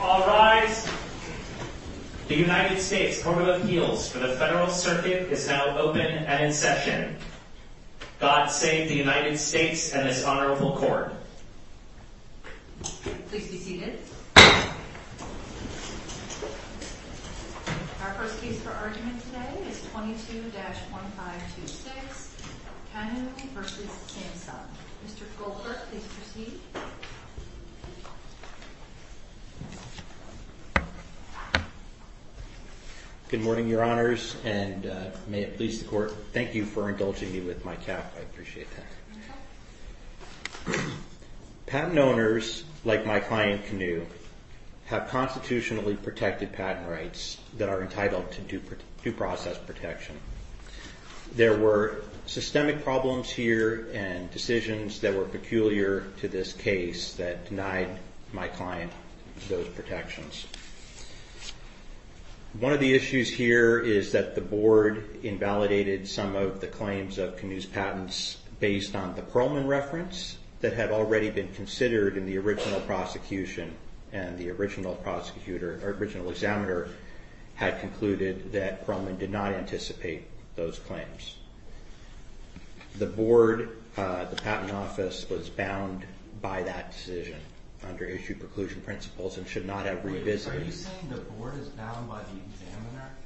All rise. The United States Court of Appeals for the Federal Circuit is now open and in session. God save the United States and this Honorable Court. Please be seated. Our first case for argument today is 22-1526, Kanyu v. Samsung. Mr. Goldberg, please proceed. Good morning, Your Honors, and may it please the Court, thank you for indulging me with my cap. I appreciate that. Patent owners, like my client Kanyu, have constitutionally protected patent rights that are entitled to due process protection. There were systemic problems here and decisions that were peculiar to this case that denied my client those protections. One of the issues here is that the Board invalidated some of the claims of Kanyu's patents based on the Perlman reference that had already been considered in the original prosecution and the original examiner had concluded that Perlman did not anticipate those claims. The Board, the Patent Office, was bound by that decision under issued preclusion principles and should not have revisited. Are you saying the Board is bound by the examiner?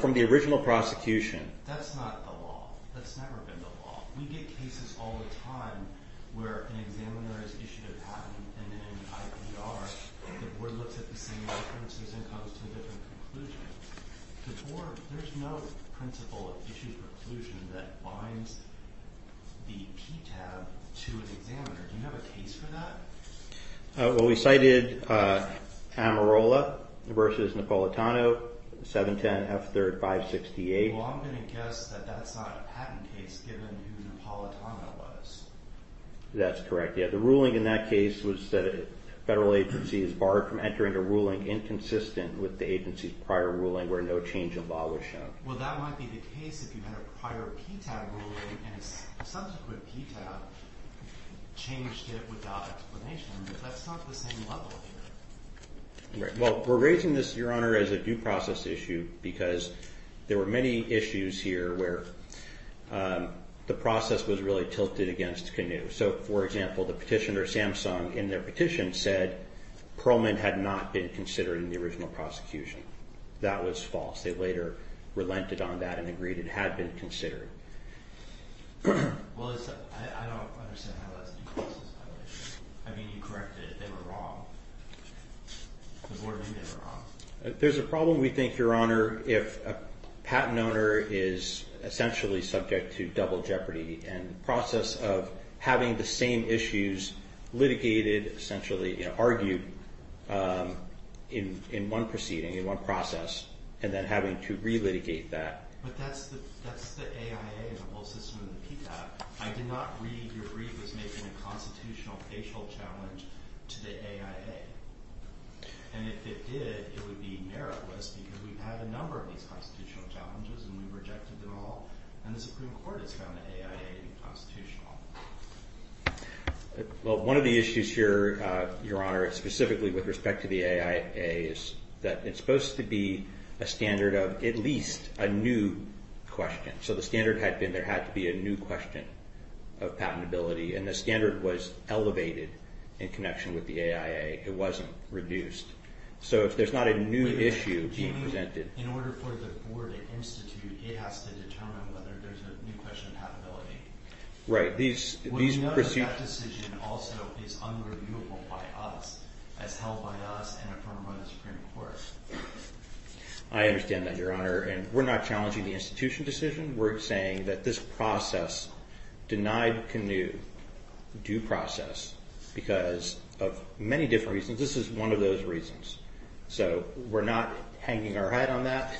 From the original prosecution. That's not the law. That's never been the law. We get cases all the time where an examiner has issued a patent and in an IBR the Board looks at the same references and comes to a different conclusion. The Board, there's no principle of issued preclusion that binds the PTAB to an examiner. Do you have a case for that? Well, we cited Amarola v. Napolitano, 710 F3rd 568. Well, I'm going to guess that that's not a patent case given who Napolitano was. That's correct. The ruling in that case was that a federal agency is barred from entering a ruling inconsistent with the agency's prior ruling where no change in law was shown. Well, that might be the case if you had a prior PTAB ruling and a subsequent PTAB changed it without explanation. But that's not the same level here. Well, we're raising this, Your Honor, as a due process issue because there were many issues here where the process was really tilted against Canoe. So, for example, the petitioner, Samsung, in their petition said Pearlman had not been considered in the original prosecution. That was false. They later relented on that and agreed it had been considered. Well, I don't understand how that's due process violation. I mean, you corrected it. They were wrong. The board knew they were wrong. There's a problem, we think, Your Honor, if a patent owner is essentially subject to double jeopardy and the process of having the same issues litigated, essentially argued in one proceeding, in one process, and then having to relitigate that. But that's the AIA in the whole system of the PTAB. I did not read your brief as making a constitutional facial challenge to the AIA. And if it did, it would be meritless because we've had a number of these constitutional challenges and we've rejected them all. And the Supreme Court has found the AIA inconstitutional. Well, one of the issues here, Your Honor, specifically with respect to the AIA, is that it's supposed to be a standard of at least a new question. So the standard had been there had to be a new question of patentability. And the standard was elevated in connection with the AIA. It wasn't reduced. So if there's not a new issue being presented... In order for the board to institute, it has to determine whether there's a new question of patentability. Right. These... We know that that decision also is unreviewable by us, as held by us and affirmed by the Supreme Court. I understand that, Your Honor. And we're not challenging the institution decision. We're saying that this process denied Canoe due process because of many different reasons. This is one of those reasons. So we're not hanging our head on that.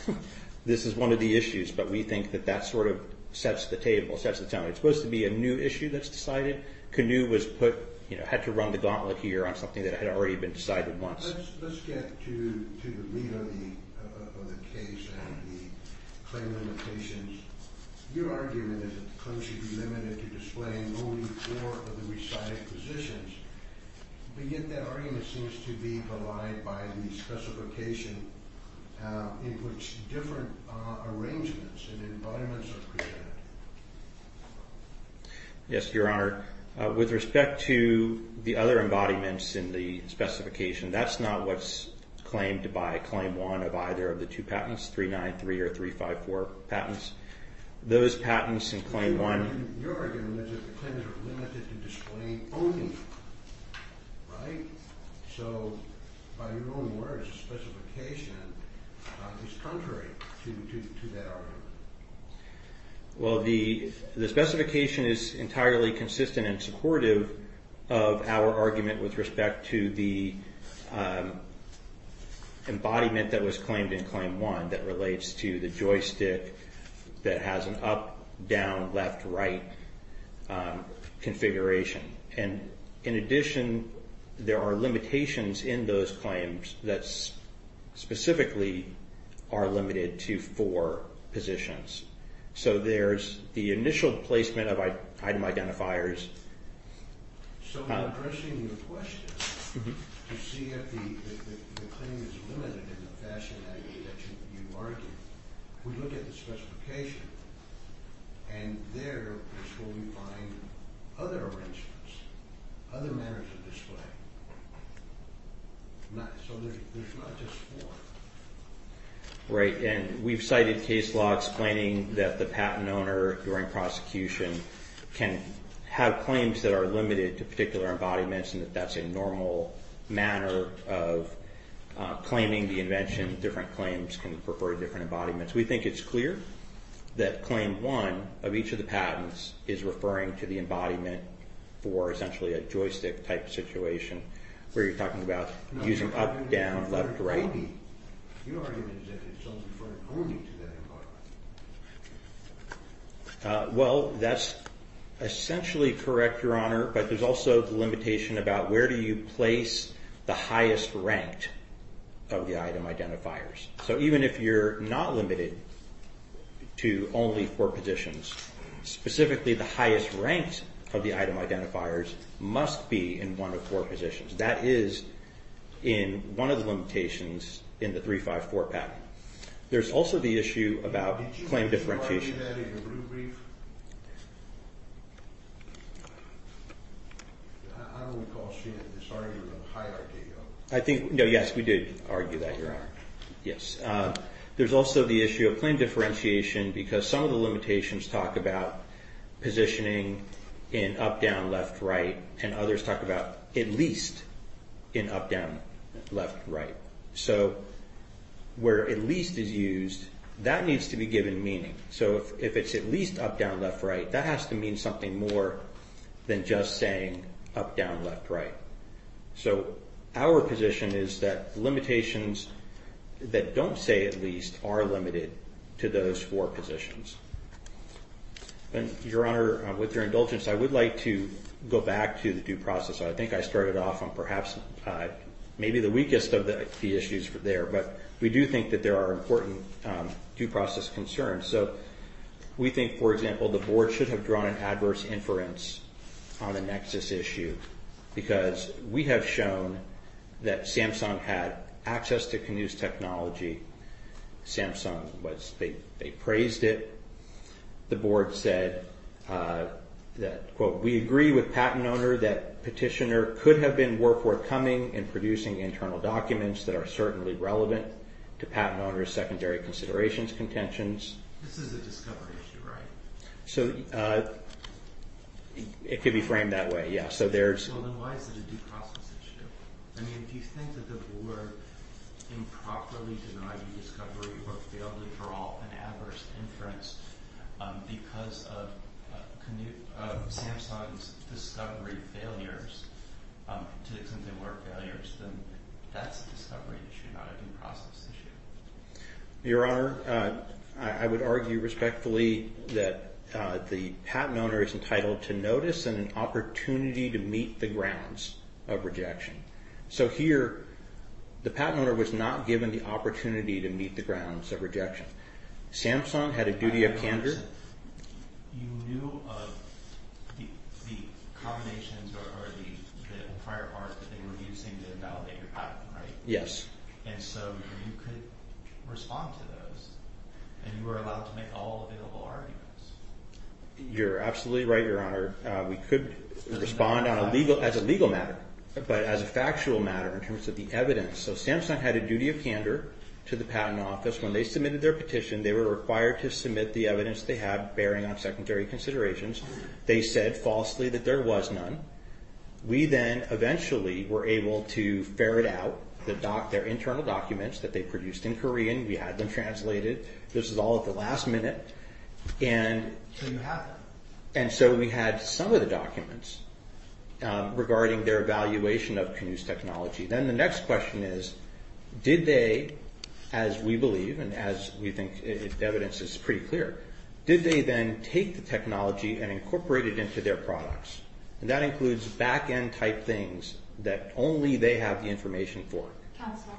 This is one of the issues, but we think that that sort of sets the table, sets the tone. It's supposed to be a new issue that's decided. Canoe was put, you know, had to run the gauntlet here on something that had already been decided once. Let's get to the meat of the case and the claim limitations. Your argument is that the claim should be limited to displaying only four of the recited positions. But yet that argument seems to be belied by the specification in which different arrangements and embodiments are presented. Yes, Your Honor. With respect to the other embodiments in the specification, that's not what's claimed by Claim 1 of either of the two patents, 393 or 354 patents. Those patents in Claim 1... Your argument is that the claims are limited to displaying only, right? So, by your own words, the specification is contrary to that argument. Well, the specification is entirely consistent and supportive of our argument with respect to the embodiment that was claimed in Claim 1 that relates to the joystick that has an up, down, left, right configuration. And, in addition, there are limitations in those claims that specifically are limited to four positions. So, there's the initial placement of item identifiers... So, in addressing your question to see if the claim is limited in the fashion that you argued, we look at the specification, and there is where we find other arrangements, other manners of display. So, there's not just four. Right, and we've cited case law explaining that the patent owner, during prosecution, can have claims that are limited to particular embodiments and that that's a normal manner of claiming the invention. Different claims can refer to different embodiments. We think it's clear that Claim 1 of each of the patents is referring to the embodiment for essentially a joystick-type situation where you're talking about using up, down, left, right. Your argument is that it's referring only to that embodiment. Well, that's essentially correct, Your Honor, but there's also the limitation about where do you place the highest ranked of the item identifiers. So, even if you're not limited to only four positions, specifically the highest ranked of the item identifiers must be in one of four positions. That is in one of the limitations in the 354 patent. There's also the issue about claim differentiation. Did you say that in your brief? I don't recall seeing this argument of hierarchy. I think, no, yes, we did argue that, Your Honor. Yes. There's also the issue of claim differentiation because some of the limitations talk about positioning in up, down, left, right, and others talk about at least in up, down, left, right. So, where at least is used, that needs to be given meaning. So, if it's at least up, down, left, right, that has to mean something more than just saying up, down, left, right. So, our position is that limitations that don't say at least are limited to those four positions. Your Honor, with your indulgence, I would like to go back to the due process. I think I started off on perhaps maybe the weakest of the issues there, but we do think that there are important due process concerns. So, we think, for example, the Board should have drawn an adverse inference on a nexus issue because we have shown that Samsung had access to Canoes technology. Samsung, they praised it. The Board said that, quote, we agree with patent owner that petitioner could have been worthwhile coming and producing internal documents that are certainly relevant to patent owner's secondary considerations, contentions. This is a discovery issue, right? So, it could be framed that way, yeah. So, then why is it a due process issue? I mean, do you think that the Board improperly denied the discovery or failed to draw an adverse inference because of Samsung's discovery failures to the extent there were failures? That's a discovery issue, not a due process issue. Your Honor, I would argue respectfully that the patent owner is entitled to notice and an opportunity to meet the grounds of rejection. So, here, the patent owner was not given the opportunity to meet the grounds of rejection. Samsung had a duty of candor. You knew of the combinations or the prior art that they were using to validate your patent, right? Yes. And so, you could respond to those and you were allowed to make all available arguments. You're absolutely right, Your Honor. We could respond as a legal matter, but as a factual matter in terms of the evidence. So, Samsung had a duty of candor to the Patent Office. When they submitted their petition, they were required to submit the evidence they had bearing on secondary considerations. They said falsely that there was none. We then eventually were able to ferret out their internal documents that they produced in Korean. We had them translated. This is all at the last minute. And so, we had some of the documents regarding their evaluation of Canoes technology. Then the next question is, did they, as we believe and as we think the evidence is pretty clear, did they then take the technology and incorporate it into their products? And that includes back-end type things that only they have the information for. Counsel,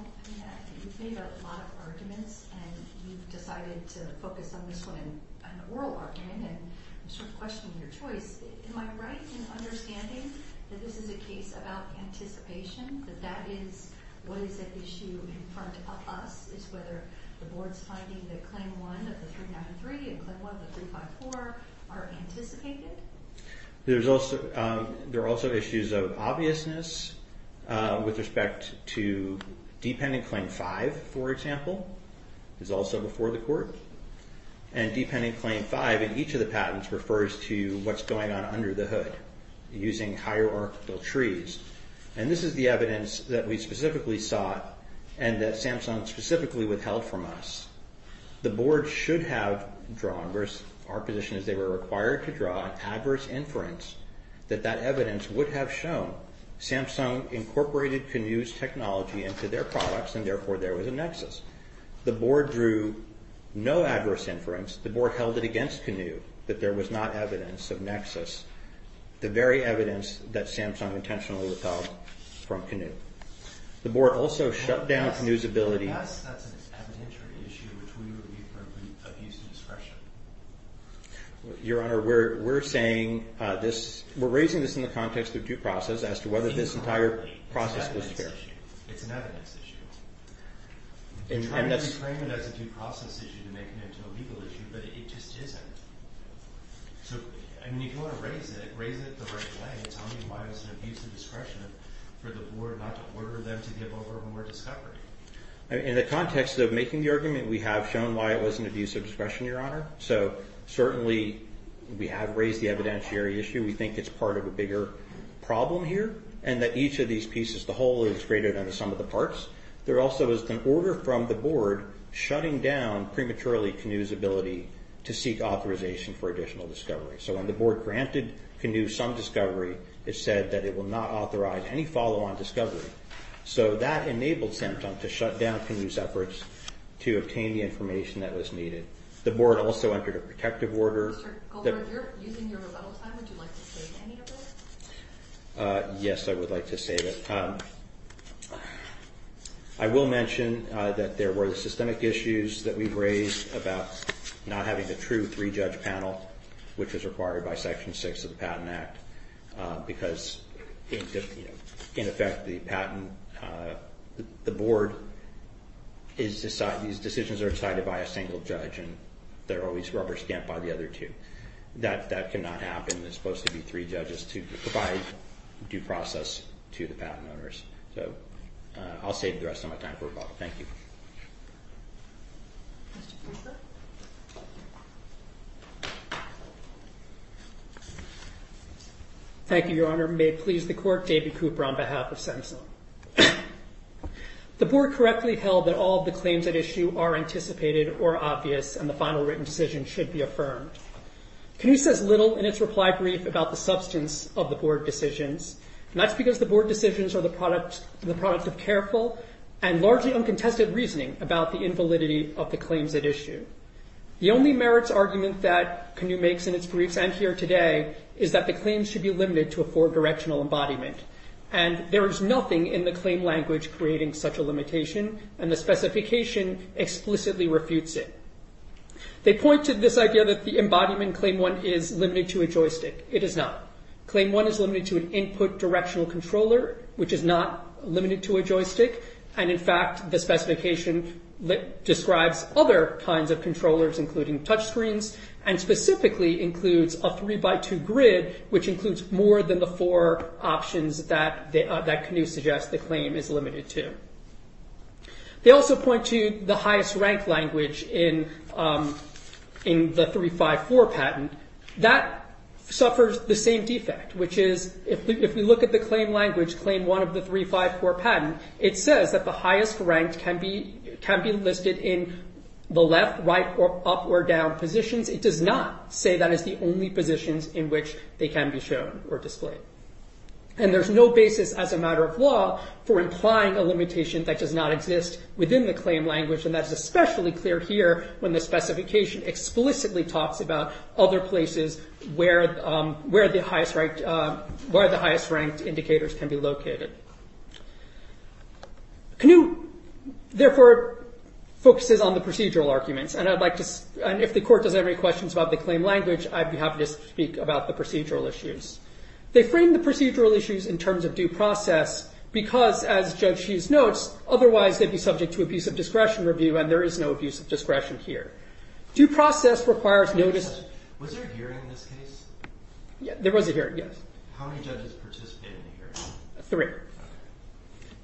you've made a lot of arguments and you've decided to focus on this one in an oral argument and I'm sort of questioning your choice. Am I right in understanding that this is a case about anticipation, that that is what is at issue in front of us? It's whether the Board's finding that Claim 1 of the 393 and Claim 1 of the 354 are anticipated? There are also issues of obviousness with respect to Dependent Claim 5, for example, is also before the court. And Dependent Claim 5 in each of the patents refers to what's going on under the hood, using hierarchical trees. And this is the evidence that we specifically sought and that Samsung specifically withheld from us. The Board should have drawn, versus our position is they were required to draw, adverse inference that that evidence would have shown Samsung incorporated Canoes technology into their products and therefore there was a nexus. The Board drew no adverse inference. The Board held it against Canoe that there was not evidence of nexus. The very evidence that Samsung intentionally withheld from Canoe. The Board also shut down Canoe's ability... To us, that's an evidentiary issue which we would view for abuse of discretion. Your Honor, we're saying this, we're raising this in the context of due process as to whether this entire process was fair. It's an evidence issue. We're trying to frame it as a due process issue to make it into a legal issue, but it just isn't. So, I mean, if you want to raise it, raise it the right way. Tell me why it was an abuse of discretion for the Board not to order them to give over more discovery. In the context of making the argument, we have shown why it was an abuse of discretion, Your Honor. So, certainly, we have raised the evidentiary issue. We think it's part of a bigger problem here and that each of these pieces, the whole is greater than the sum of the parts. There also is an order from the Board shutting down prematurely Canoe's ability to seek authorization for additional discovery. So, when the Board granted Canoe some discovery, it said that it will not authorize any follow-on discovery. So, that enabled Samsung to shut down Canoe's efforts to obtain the information that was needed. The Board also entered a protective order... Mr. Goldberg, you're using your rebuttal time. Would you like to say anything? Yes, I would like to say that... I will mention that there were systemic issues that we've raised about not having the true three-judge panel, which was required by Section 6 of the Patent Act, because, in effect, the Board... these decisions are decided by a single judge and they're always rubber-stamped by the other two. That cannot happen. There's supposed to be three judges to provide due process to the patent owners. So, I'll save the rest of my time for rebuttal. Thank you. Thank you, Your Honor. May it please the Court, David Cooper on behalf of Samsung. The Board correctly held that all of the claims at issue are anticipated or obvious, and the final written decision should be affirmed. Canoe says little in its reply brief about the substance of the Board decisions, and that's because the Board decisions are the product of careful and largely uncontested reasoning about the invalidity of the claims at issue. The only merits argument that Canoe makes in its briefs and here today is that the claims should be limited to a four-directional embodiment, and there is nothing in the claim language creating such a limitation, and the specification explicitly refutes it. They point to this idea that the embodiment, Claim 1, is limited to a joystick. It is not. Claim 1 is limited to an input directional controller, which is not limited to a joystick, and, in fact, the specification describes other kinds of controllers, including touchscreens, and specifically includes a three-by-two grid, which includes more than the four options that Canoe suggests the claim is limited to. They also point to the highest-ranked language in the 354 patent. That suffers the same defect, which is if we look at the claim language, Claim 1 of the 354 patent, it says that the highest-ranked can be listed in the left, right, or up or down positions. It does not say that is the only positions in which they can be shown or displayed, and there's no basis as a matter of law for implying a limitation that does not exist within the claim language, and that is especially clear here when the specification explicitly talks about other places where the highest-ranked indicators can be located. Canoe, therefore, focuses on the procedural arguments, and if the Court doesn't have any questions about the claim language, I'd be happy to speak about the procedural issues. They frame the procedural issues in terms of due process because, as Judge Hughes notes, otherwise they'd be subject to abuse of discretion review, and there is no abuse of discretion here. Due process requires notice... Was there a hearing in this case? There was a hearing, yes. How many judges participated in the hearing? Three. Okay.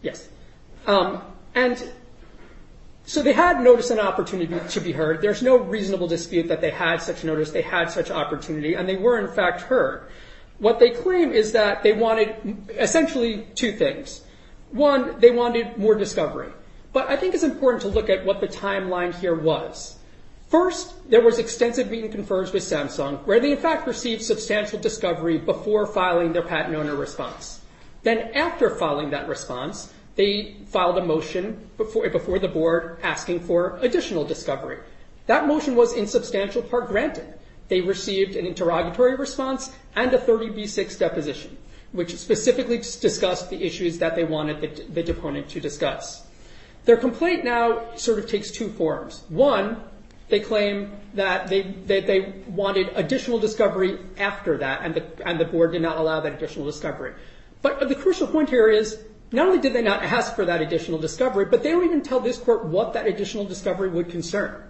Yes. And so they had notice and opportunity to be heard. There's no reasonable dispute that they had such notice, they had such opportunity, and they were, in fact, heard. What they claim is that they wanted essentially two things. One, they wanted more discovery, but I think it's important to look at what the timeline here was. First, there was extensive meeting confirms with Samsung, where they, in fact, received substantial discovery before filing their patent owner response. Then after filing that response, they filed a motion before the board asking for additional discovery. That motion was, in substantial part, granted. They received an interrogatory response and a 30B6 deposition, which specifically discussed the issues that they wanted the deponent to discuss. Their complaint now sort of takes two forms. One, they claim that they wanted additional discovery after that, and the board did not allow that additional discovery. But the crucial point here is not only did they not ask for that additional discovery, but they don't even tell this court what that additional discovery would concern.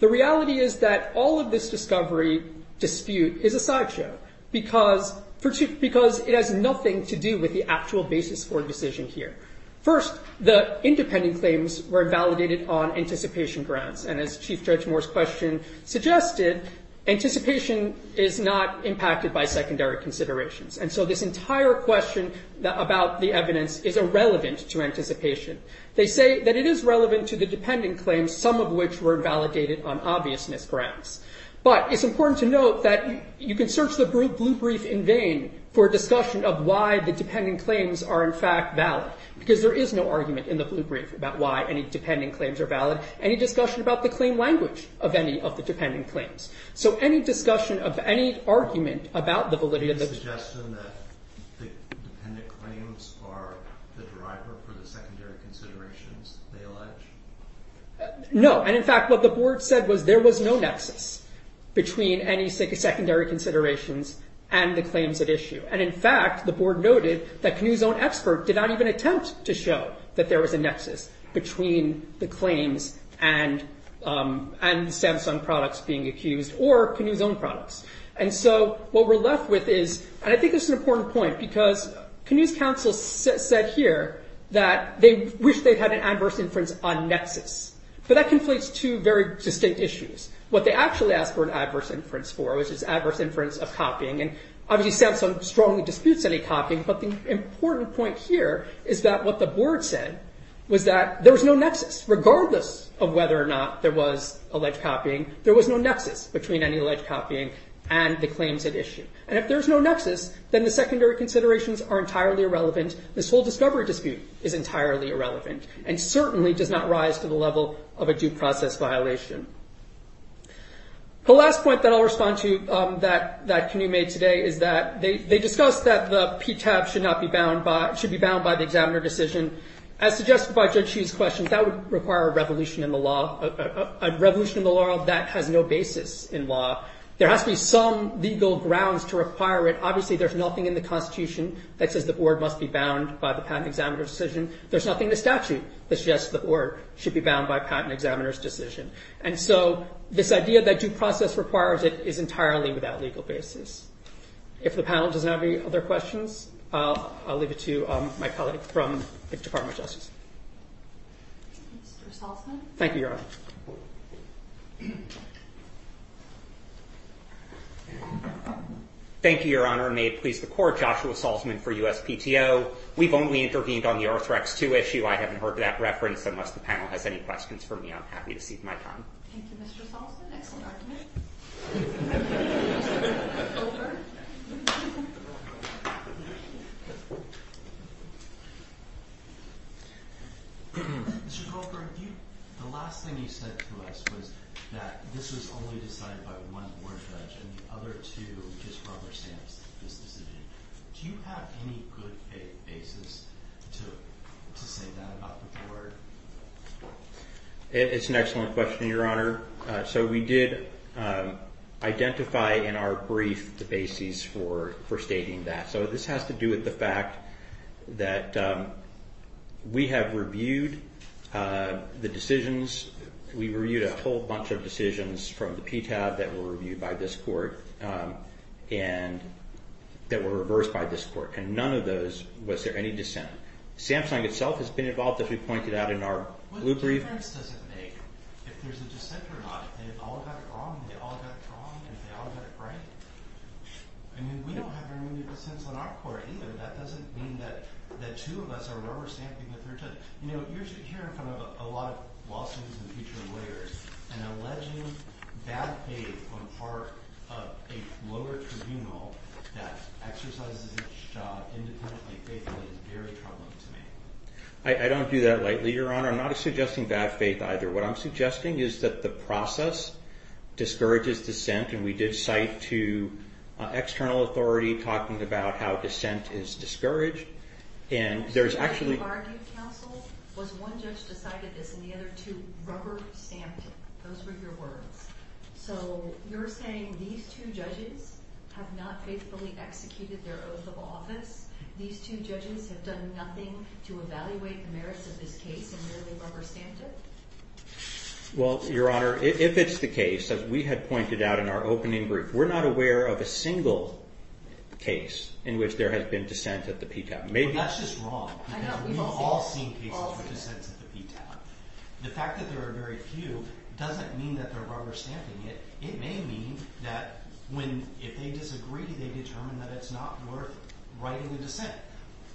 The reality is that all of this discovery dispute is a sideshow, because it has nothing to do with the actual basis for a decision here. First, the independent claims were invalidated on anticipation grounds, and as Chief Judge Moore's question suggested, anticipation is not impacted by secondary considerations. And so this entire question about the evidence is irrelevant to anticipation. They say that it is relevant to the dependent claims, some of which were invalidated on obviousness grounds. But it's important to note that you can search the blue brief in vain for a discussion of why the dependent claims are in fact valid, because there is no argument in the blue brief about why any dependent claims are valid, any discussion about the claim language of any of the dependent claims. So any discussion of any argument about the validity of the- Can you suggest then that the dependent claims are the driver for the secondary considerations they allege? No. And in fact, what the board said was there was no nexus between any secondary considerations and the claims at issue. And in fact, the board noted that Canoe's own expert did not even attempt to show that there was a nexus between the claims and Samsung products being accused or Canoe's own products. And so what we're left with is, and I think this is an important point, because Canoe's counsel said here that they wish they'd had an adverse inference on nexus. But that conflates two very distinct issues. What they actually asked for an adverse inference for was this adverse inference of copying. And obviously, Samsung strongly disputes any copying. But the important point here is that what the board said was that there was no nexus. Regardless of whether or not there was alleged copying, there was no nexus between any alleged copying and the claims at issue. And if there's no nexus, then the secondary considerations are entirely irrelevant. This whole discovery dispute is entirely irrelevant and certainly does not rise to the level of a due process violation. The last point that I'll respond to that Canoe made today is that they discussed that the PTAB should not be bound by, should be bound by the examiner decision. As suggested by Judge Hsu's questions, that would require a revolution in the law, a revolution in the law that has no basis in law. There has to be some legal grounds to require it. Obviously, there's nothing in the Constitution that says the board must be bound by the patent examiner's decision. There's nothing in the statute that suggests the board should be bound by patent examiner's decision. And so this idea that due process requires it is entirely without legal basis. If the panel does not have any other questions, I'll leave it to my colleague from the Department of Justice. Mr. Salzman? Thank you, Your Honor. Thank you, Your Honor. May it please the Court, Joshua Salzman for USPTO. We've only intervened on the Arthrex II issue. I haven't heard that reference unless the panel has any questions for me. I'm happy to cede my time. Thank you, Mr. Salzman. Excellent argument. Mr. Colquhart, the last thing you said to us was that this was only decided by one board judge and the other two just rubber-stamped this decision. Do you have any good basis to say that about the board? It's an excellent question, Your Honor. So we did identify in our brief the basis for stating that. So this has to do with the fact that we have reviewed the decisions. We reviewed a whole bunch of decisions from the PTAB that were reviewed by this court and that were reversed by this court. And none of those was there any dissent. Samsung itself has been involved, as we pointed out in our blue brief. The difference doesn't make if there's a dissent or not. If they all got it wrong, they all got it wrong, and if they all got it right. I mean, we don't have very many dissents on our court either. That doesn't mean that the two of us are rubber-stamping the third judge. You know, you're hearing from a lot of law students and future lawyers an alleging bad faith on the part of a lower tribunal that exercises its job independently and faithfully is very troubling to me. I don't do that lightly, Your Honor. I'm not suggesting bad faith either. What I'm suggesting is that the process discourages dissent, and we did cite to external authority talking about how dissent is discouraged. And there's actually— What you argued, counsel, was one judge decided this and the other two rubber-stamped it. Those were your words. So you're saying these two judges have not faithfully executed their oath of office. These two judges have done nothing to evaluate the merits of this case and merely rubber-stamped it? Well, Your Honor, if it's the case, as we had pointed out in our opening brief, we're not aware of a single case in which there has been dissent at the PTAB. That's just wrong. We've all seen cases with dissents at the PTAB. The fact that there are very few doesn't mean that they're rubber-stamping it. It may mean that if they disagree, they determine that it's not worth writing a dissent.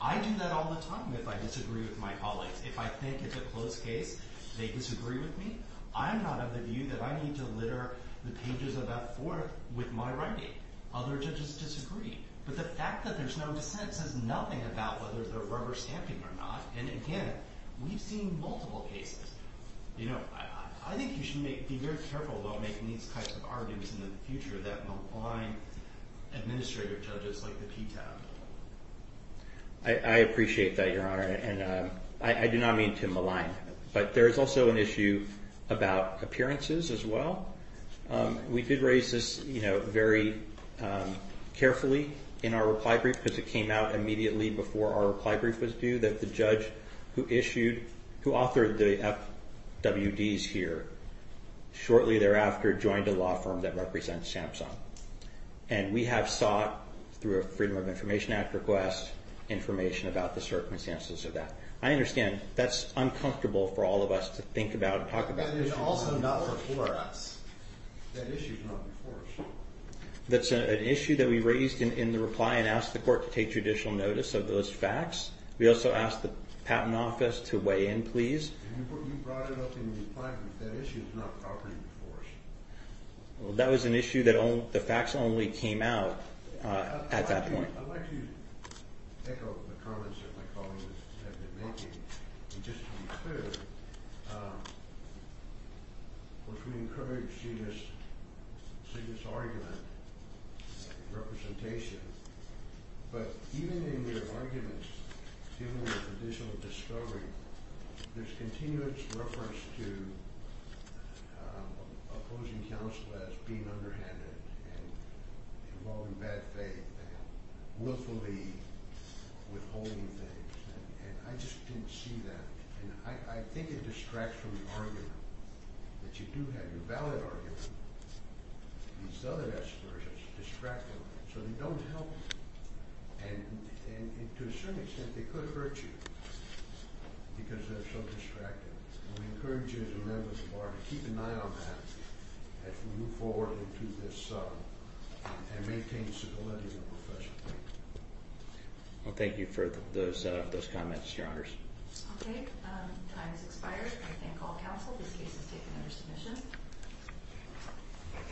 I do that all the time if I disagree with my colleagues. If I think it's a close case, they disagree with me. I'm not of the view that I need to litter the pages of that court with my writing. Other judges disagree. But the fact that there's no dissent says nothing about whether they're rubber-stamping it or not. And again, we've seen multiple cases. I think you should be very careful about making these kinds of arguments in the future that malign administrative judges like the PTAB. I appreciate that, Your Honor. And I do not mean to malign. But there's also an issue about appearances as well. We did raise this very carefully in our reply brief because it came out immediately before our reply brief was due that the judge who authored the FWDs here shortly thereafter joined a law firm that represents Samsung. And we have sought, through a Freedom of Information Act request, information about the circumstances of that. I understand that's uncomfortable for all of us to think about and talk about. But it's also not before us. That issue's not before us. That's an issue that we raised in the reply and asked the court to take judicial notice of those facts. We also asked the Patent Office to weigh in, please. You brought it up in the reply, but that issue is not properly before us. Well, that was an issue that the facts only came out at that point. I'd like to echo the comments that my colleagues have been making. And just to be clear, of course, we encourage you to see this argument, representation. But even in your arguments, given the condition of discovery, there's continuous reference to opposing counsel as being underhanded and involved in bad faith and willfully withholding things. And I just didn't see that. And I think it distracts from the argument that you do have your valid argument. These other aspersions distract them, so they don't help. And to a certain extent, they could hurt you because they're so distracted. And we encourage you as a member of the Bar to keep an eye on that as we move forward into this and maintain stability in the profession. Well, thank you for those comments, Your Honors. Okay. Time has expired. I thank all counsel. This case is taken under submission. Thank you.